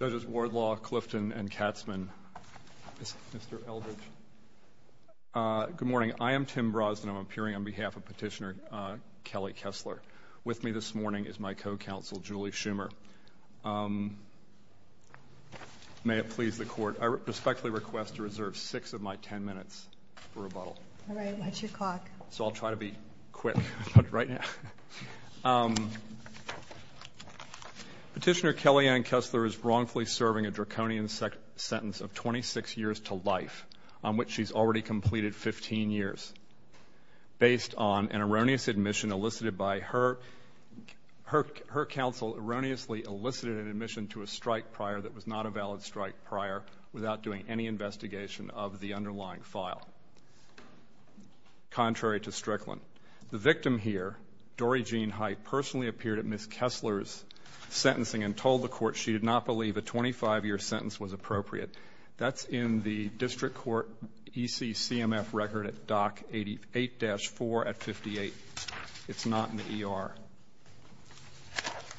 Judges Wardlaw, Clifton, and Katzman, Mr. Eldridge, good morning. I am Tim Brosnan. I'm appearing on behalf of Petitioner Kelly Kessler. With me this morning is my co-counsel, Julie Schumer. May it please the Court, I respectfully request to reserve six of my ten minutes for rebuttal. All right, what's your clock? So I'll try to be quick about it right now. Petitioner Kellyanne Kessler is wrongfully serving a draconian sentence of 26 years to life on which she's already completed 15 years based on an erroneous admission elicited by her counsel erroneously elicited an admission to a strike prior that was not a valid strike prior without doing any investigation of the underlying file, contrary to Strickland. The victim here, Dory Jean Height, personally appeared at Ms. Kessler's sentencing and told the Court she did not believe a 25-year sentence was appropriate. That's in the District Court EC-CMF record at Dock 88-4 at 58. It's not in the ER.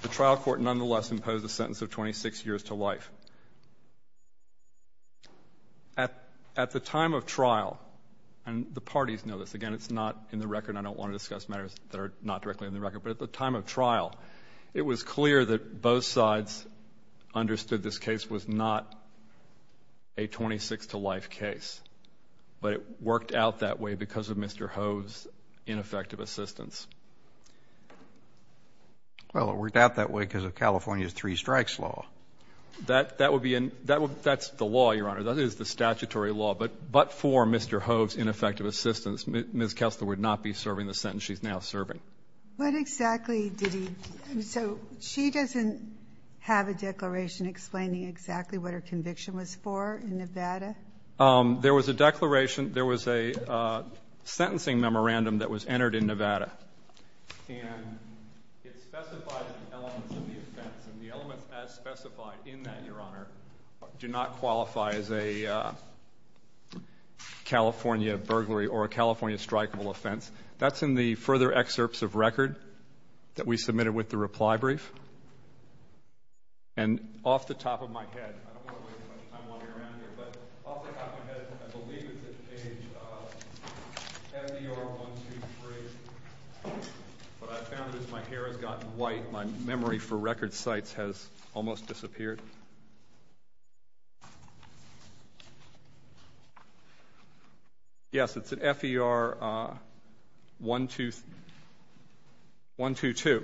The trial court nonetheless imposed a sentence of 26 years to life. At the time of trial, and the parties know this, again, it's not in the record and I don't want to discuss matters that are not directly in the record, but at the time of trial, it was clear that both sides understood this case was not a 26-to-life case, but it worked out that way because of Mr. Hove's ineffective assistance. Well, it worked out that way because of California's three-strikes law. That's the law, Your Honor. That is the statutory law. But for Mr. Hove's ineffective assistance, Ms. Kessler would not be serving the sentence she's now serving. What exactly did he do? So she doesn't have a declaration explaining exactly what her conviction was for in Nevada? There was a declaration. There was a sentencing memorandum that was entered in Nevada, and it specified some elements of the offense, and the elements as specified in that, Your Honor, do not qualify as a California burglary or a California strikeable offense. That's in the further excerpts of record that we submitted with the reply brief. And off the top of my head, I don't want to waste much time wandering around here, but off the top of my head, I believe it's at page F.E.R.123, but I found it as my hair has gotten white, my memory for record sites has almost disappeared. Yes, it's at F.E.R.122,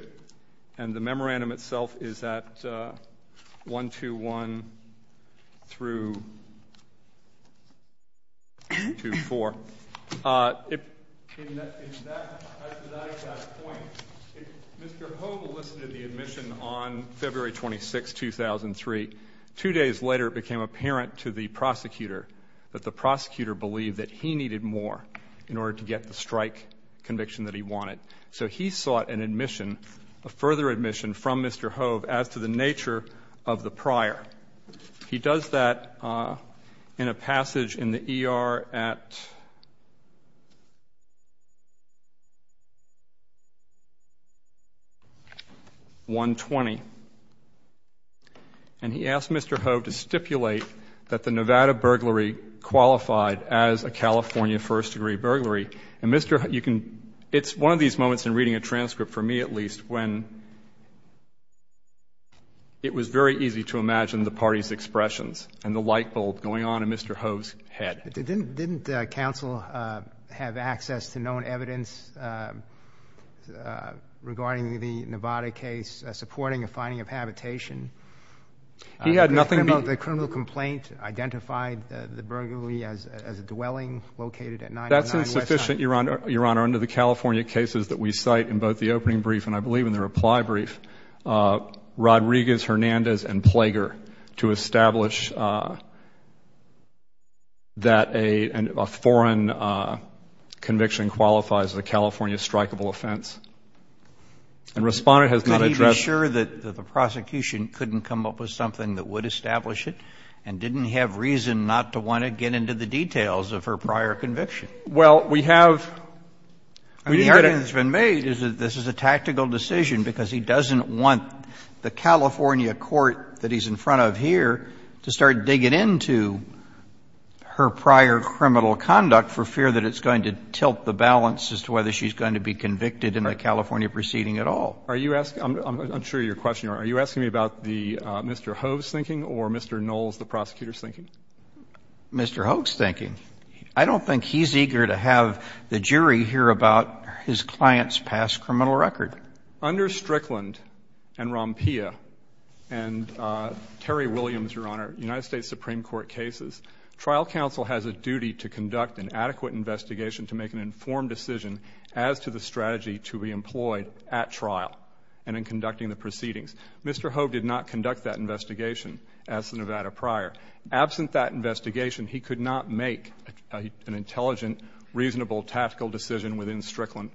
and the memorandum itself is at 121 through 124. Mr. Hove enlisted the admission on February 26, 2003. Two days later, it became apparent to the prosecutor that the prosecutor believed that he needed more in order to get the strike conviction that he wanted. So he sought an admission, a further admission from Mr. Hove as to the nature of the prior. He does that in a passage in the E.R. at 120, and he asked Mr. Hove to stipulate that the Nevada burglary qualified as a California first-degree burglary. And, Mr. Hove, you can — it's one of these moments in reading a transcript, for me at least, when it was very easy to imagine the party's expressions and the light bulb going on in Mr. Hove's head. Didn't counsel have access to known evidence regarding the Nevada case supporting a finding of habitation? He had nothing to — The criminal complaint identified the burglary as a dwelling located at 949 West —— that a foreign conviction qualifies as a California strikeable offense. And Respondent has not addressed — But he was sure that the prosecution couldn't come up with something that would establish it and didn't have reason not to want to get into the details of her prior conviction. Well, we have — I mean, the argument that's been made is that this is a tactical decision because he doesn't want the California court that he's in front of here to start digging into her prior criminal conduct for fear that it's going to tilt the balance as to whether she's going to be convicted in the California proceeding at all. Are you asking — I'm sure you're questioning. Are you asking me about the — Mr. Hove's thinking or Mr. Knoll's, the prosecutor's thinking? Mr. Hove's thinking. I don't think he's eager to have the jury hear about his client's past criminal record. Under Strickland and Rompea and Terry Williams, Your Honor, United States Supreme Court cases, trial counsel has a duty to conduct an adequate investigation to make an informed decision as to the strategy to be employed at trial and in conducting the proceedings. Mr. Hove did not conduct that investigation as the Nevada prior. Absent that investigation, he could not make an intelligent, reasonable, tactical decision within Strickland.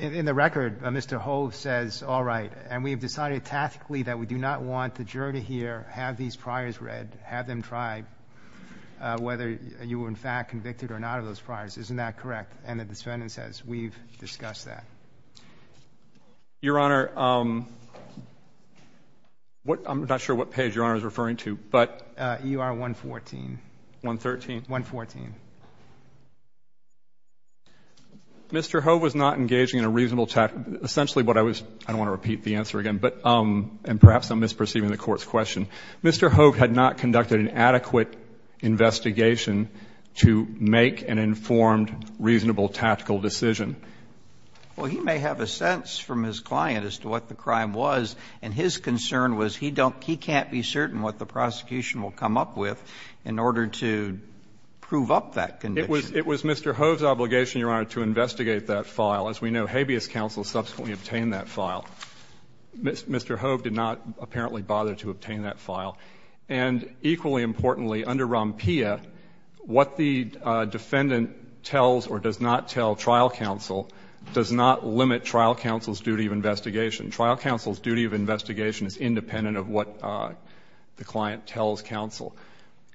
In the record, Mr. Hove says, all right, and we have decided tactically that we do not want the jury to hear, have these priors read, have them try whether you were in fact convicted or not of those priors. Isn't that correct? And the defendant says, we've discussed that. Your Honor, what — I'm not sure what page Your Honor is referring to, but — U.R. 114. 113? 114. Mr. Hove was not engaging in a reasonable — essentially what I was — I don't want to repeat the answer again, but — and perhaps I'm misperceiving the Court's question. Mr. Hove had not conducted an adequate investigation to make an informed, reasonable, tactical decision. Well, he may have a sense from his client as to what the crime was, and his concern was he can't be certain what the prosecution will come up with in order to prove up that condition. It was Mr. Hove's obligation, Your Honor, to investigate that file. As we know, habeas counsel subsequently obtained that file. Mr. Hove did not apparently bother to obtain that file. And equally importantly, under ROMPIA, what the defendant tells or does not tell trial counsel does not limit trial counsel's duty of investigation. Trial counsel's duty of investigation is independent of what the client tells counsel.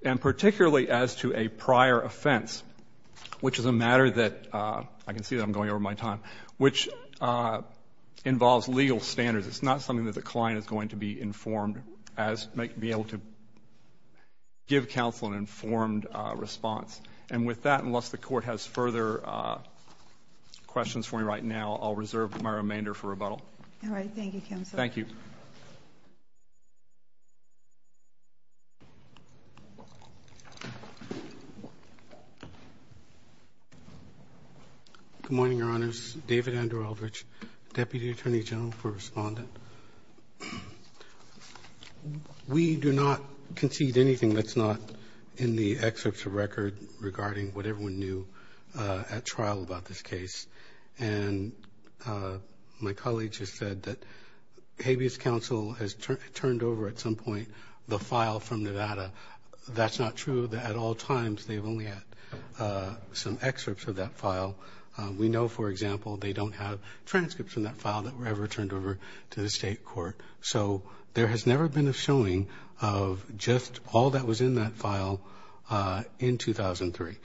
And particularly as to a prior offense, which is a matter that — I can see that I'm going over my time — which involves legal standards. It's not something that the client is going to be informed as — be able to give counsel an informed response. And with that, unless the Court has further questions for me right now, I'll reserve my remainder for rebuttal. All right. Thank you, counsel. Thank you. Good morning, Your Honors. David Andrew Eldridge, Deputy Attorney General for Respondent. We do not concede anything that's not in the excerpts of record regarding what everyone knew at trial about this case. And my colleague has said that habeas counsel has turned over at some point the file from Nevada. That's not true. At all times, they've only had some excerpts of that file. We know, for example, they don't have transcripts from that file that were ever turned over to the State Court. So there has never been a showing of just all that was in that file in 2003.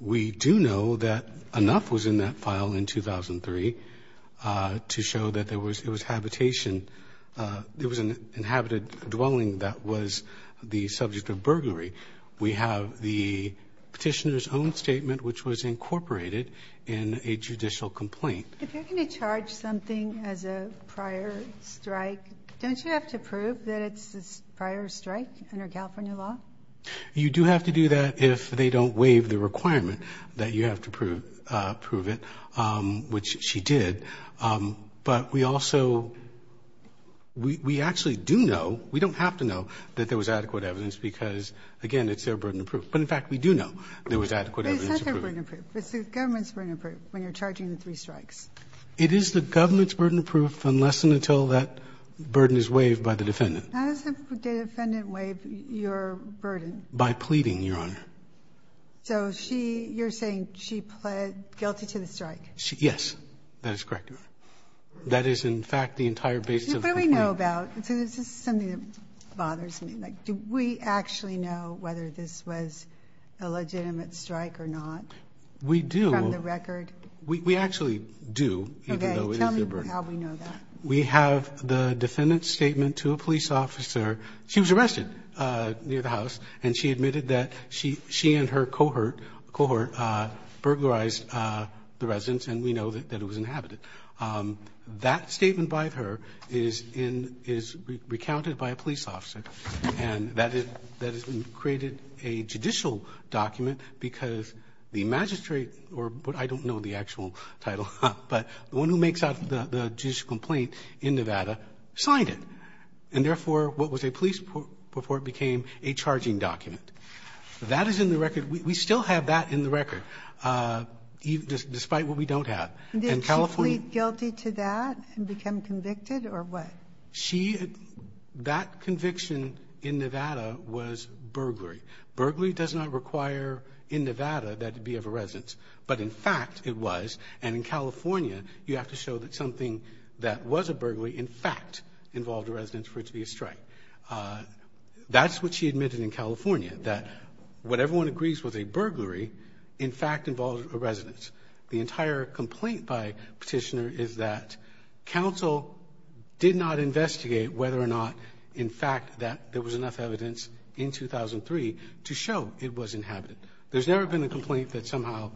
We do know that enough was in that file in 2003 to show that there was — it was habitation. It was an inhabited dwelling that was the subject of burglary. We have the Petitioner's own statement, which was incorporated in a judicial complaint. If you're going to charge something as a prior strike, don't you have to prove that it's a prior strike under California law? You do have to do that if they don't waive the requirement that you have to prove it, which she did. But we also — we actually do know, we don't have to know, that there was adequate evidence because, again, it's their burden of proof. But, in fact, we do know there was adequate evidence. It's not their burden of proof. It's the government's burden of proof when you're charging the three strikes. It is the government's burden of proof unless and until that burden is waived by the defendant. How does the defendant waive your burden? By pleading, Your Honor. So she — you're saying she pled guilty to the strike? Yes, that is correct, Your Honor. That is, in fact, the entire basis of the complaint. What do we know about — this is something that bothers me. Like, do we actually know whether this was a legitimate strike or not from the record? We do. We actually do, even though it is their burden. Okay. Tell me how we know that. We have the defendant's statement to a police officer. She was arrested near the house, and she admitted that she and her cohort burglarized the residence, and we know that it was inhabited. That statement by her is recounted by a police officer, and that has created a judicial document because the magistrate — the magistrate in Nevada signed it. And therefore, what was a police report became a charging document. That is in the record. We still have that in the record, despite what we don't have. And California — Did she plead guilty to that and become convicted, or what? She — that conviction in Nevada was burglary. Burglary does not require in Nevada that it be of a residence. But in fact, it was. And in California, you have to show that something that was a burglary in fact involved a residence for it to be a strike. That's what she admitted in California, that what everyone agrees was a burglary in fact involved a residence. The entire complaint by Petitioner is that counsel did not investigate whether or not, in fact, that there was enough evidence in 2003 to show it was inhabited. There's never been a complaint that somehow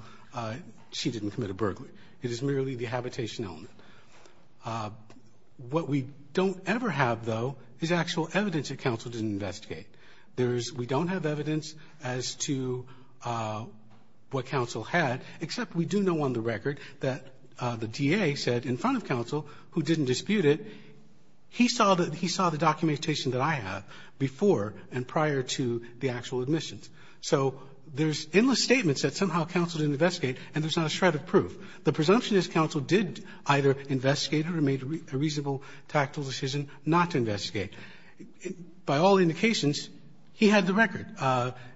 she didn't commit a burglary. It is merely the habitation element. What we don't ever have, though, is actual evidence that counsel didn't investigate. There is — we don't have evidence as to what counsel had, except we do know on the record that the DA said in front of counsel, who didn't dispute it, he saw the — he saw the documentation that I have before and prior to the actual admissions. So there's endless statements that somehow counsel didn't investigate, and there's not a shred of proof. The presumption is counsel did either investigate or made a reasonable tactical decision not to investigate. By all indications, he had the record.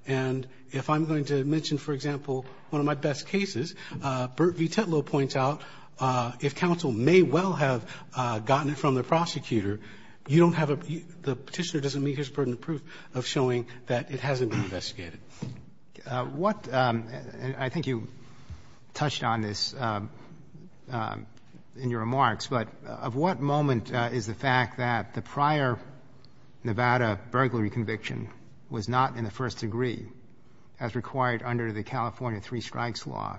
And if I'm going to mention, for example, one of my best cases, Burt V. Tetlow points out if counsel may well have gotten it from the prosecutor, you don't have a — the Petitioner doesn't meet his burden of proof of showing that it hasn't been investigated. Roberts. What — I think you touched on this in your remarks, but of what moment is the fact that the prior Nevada burglary conviction was not in the first degree as required under the California Three Strikes Law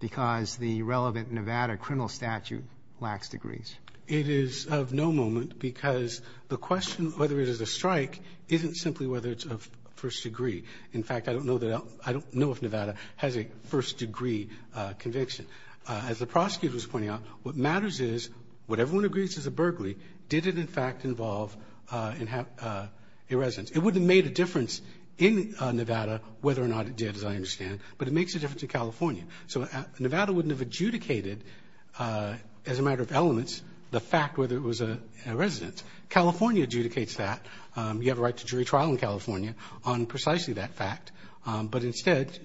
because the relevant Nevada criminal statute lacks degrees? It is of no moment because the question whether it is a strike isn't simply whether it's of first degree. In fact, I don't know that — I don't know if Nevada has a first degree conviction. As the prosecutor was pointing out, what matters is what everyone agrees is a burglary. Did it, in fact, involve an — a residence? It wouldn't have made a difference in Nevada whether or not it did, as I understand, but it makes a difference in California. So Nevada wouldn't have adjudicated as a matter of elements the fact whether it was a residence. California adjudicates that. You have a right to jury trial in California on precisely that fact. But instead,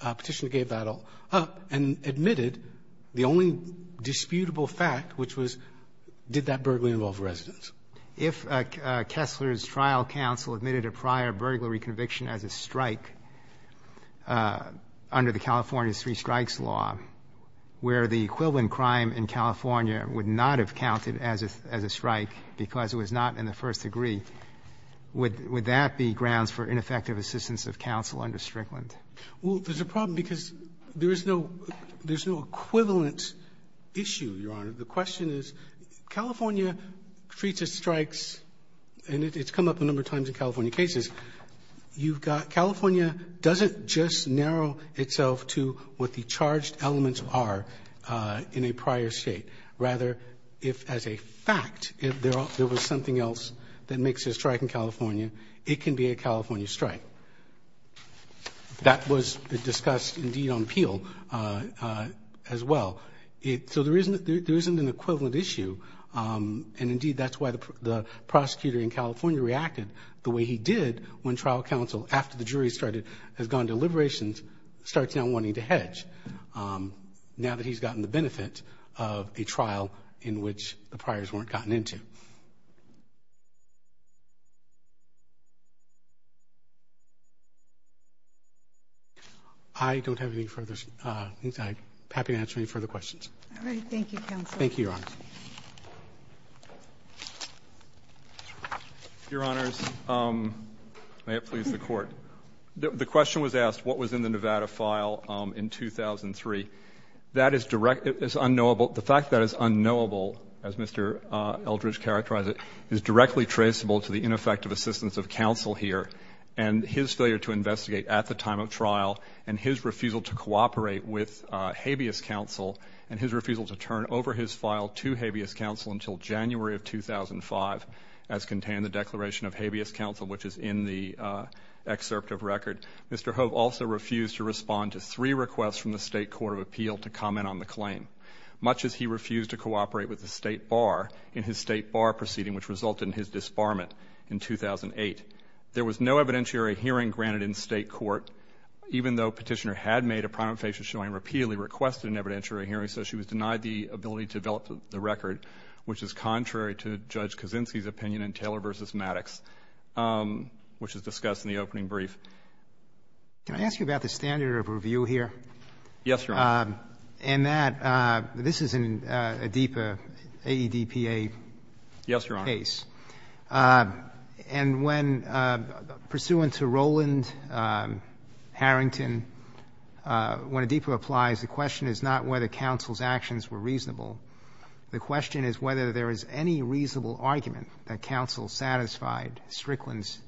Petitioner gave that up and admitted the only disputable fact, which was did that burglary involve a residence? If Kessler's trial counsel admitted a prior burglary conviction as a strike under the California Street Strikes Law, where the equivalent crime in California would not have counted as a strike because it was not in the first degree, would that be grounds for ineffective assistance of counsel under Strickland? Well, there's a problem because there is no — there's no equivalent issue, Your Honor. The question is California treats its strikes, and it's come up a number of times in California cases. You've got — California doesn't just narrow itself to what the charged elements are in a prior state. Rather, if, as a fact, if there was something else that makes a strike in California, it can be a California strike. That was discussed, indeed, on appeal as well. So there isn't an equivalent issue, and, indeed, that's why the prosecutor in particular, when trial counsel, after the jury started — has gone to liberations, starts now wanting to hedge now that he's gotten the benefit of a trial in which the priors weren't gotten into. I don't have any further — I'm happy to answer any further questions. All right. Thank you, counsel. Thank you, Your Honors. Your Honors, may it please the Court. The question was asked, what was in the Nevada file in 2003? That is direct — it's unknowable. The fact that it's unknowable, as Mr. Eldridge characterized it, is directly traceable to the ineffective assistance of counsel here and his failure to investigate at the time of trial and his refusal to cooperate with habeas counsel and his refusal to turn over his file to habeas counsel until January of 2005, as contained in the Declaration of Habeas Counsel, which is in the excerpt of record. Mr. Hove also refused to respond to three requests from the State Court of Appeal to comment on the claim, much as he refused to cooperate with the State Bar in his State Bar proceeding, which resulted in his disbarment in 2008. There was no evidentiary hearing granted in State Court, even though Petitioner had made a prima facie showing repeatedly requested an evidentiary hearing, so she was denied the ability to develop the record, which is contrary to Judge Kaczynski's opinion in Taylor v. Maddox, which was discussed in the opening brief. Can I ask you about the standard of review here? Yes, Your Honor. And that — this is an ADPA, A-E-D-P-A case. Yes, Your Honor. And when — pursuant to Roland Harrington, when ADPA applies, the question is not whether counsel's actions were reasonable. The question is whether there is any reasonable argument that counsel satisfied Strickland's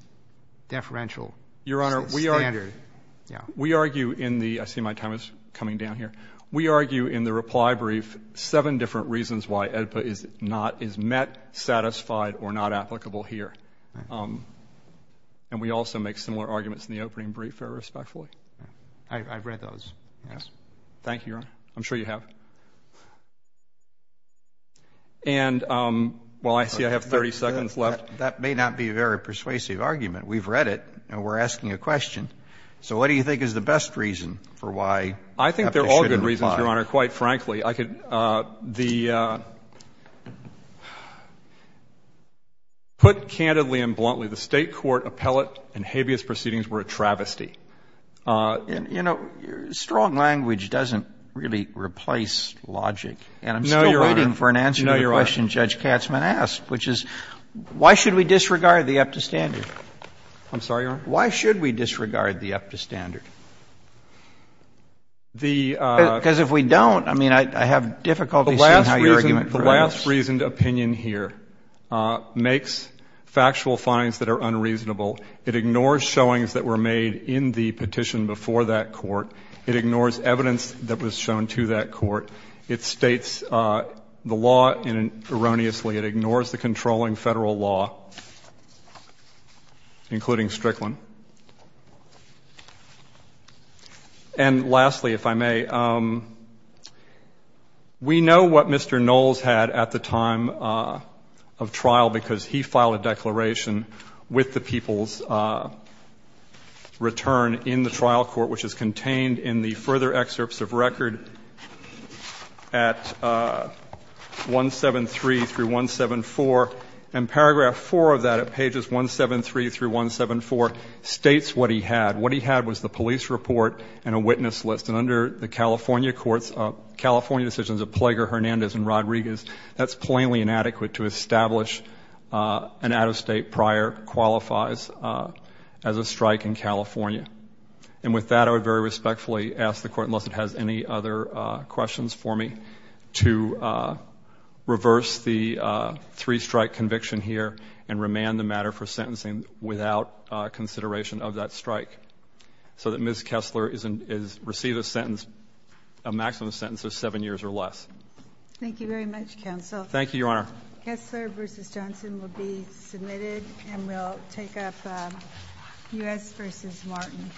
deferential standard. Your Honor, we argue — Yes. We argue in the — I see my time is coming down here. We argue in the reply brief seven different reasons why ADPA is not — is met, satisfied, or not applicable here. And we also make similar arguments in the opening brief, respectfully. I've read those, yes. Thank you, Your Honor. I'm sure you have. And while I see I have 30 seconds left — That may not be a very persuasive argument. We've read it, and we're asking a question. So what do you think is the best reason for why ADPA shouldn't apply? I think they're all good reasons, Your Honor, quite frankly. I could — the — put candidly and bluntly, the State court appellate and habeas proceedings were a travesty. And, you know, strong language doesn't really replace logic. No, Your Honor. And I'm still waiting for an answer to the question Judge Katzman asked, which is why should we disregard the EPTA standard? I'm sorry, Your Honor? Why should we disregard the EPTA standard? The — Because if we don't, I mean, I have difficulty seeing how your argument goes. The last reason — the last reasoned opinion here makes factual finds that are unreasonable. It ignores showings that were made in the petition before that court. It ignores evidence that was shown to that court. It states the law erroneously. It ignores the controlling Federal law, including Strickland. And lastly, if I may, we know what Mr. Knowles had at the time of trial because he filed a declaration with the people's return in the trial court, which is contained in the further excerpts of record at 173 through 174, and paragraph 4 of that at pages 173 through 174 states what he had. What he had was the police report and a witness list. And under the California courts — California decisions of Plager, Hernandez, and Rodriguez, that's plainly inadequate to establish an out-of-state prior qualifies as a strike in California. And with that, I would very respectfully ask the Court, unless it has any other questions for me, to reverse the three-strike conviction here and remand the matter for sentencing without consideration of that strike so that Ms. Kessler is — receives a sentence, a maximum sentence of seven years or less. Thank you very much, Counsel. Thank you, Your Honor. Kessler v. Johnson will be submitted, and we'll take up U.S. v. Martin.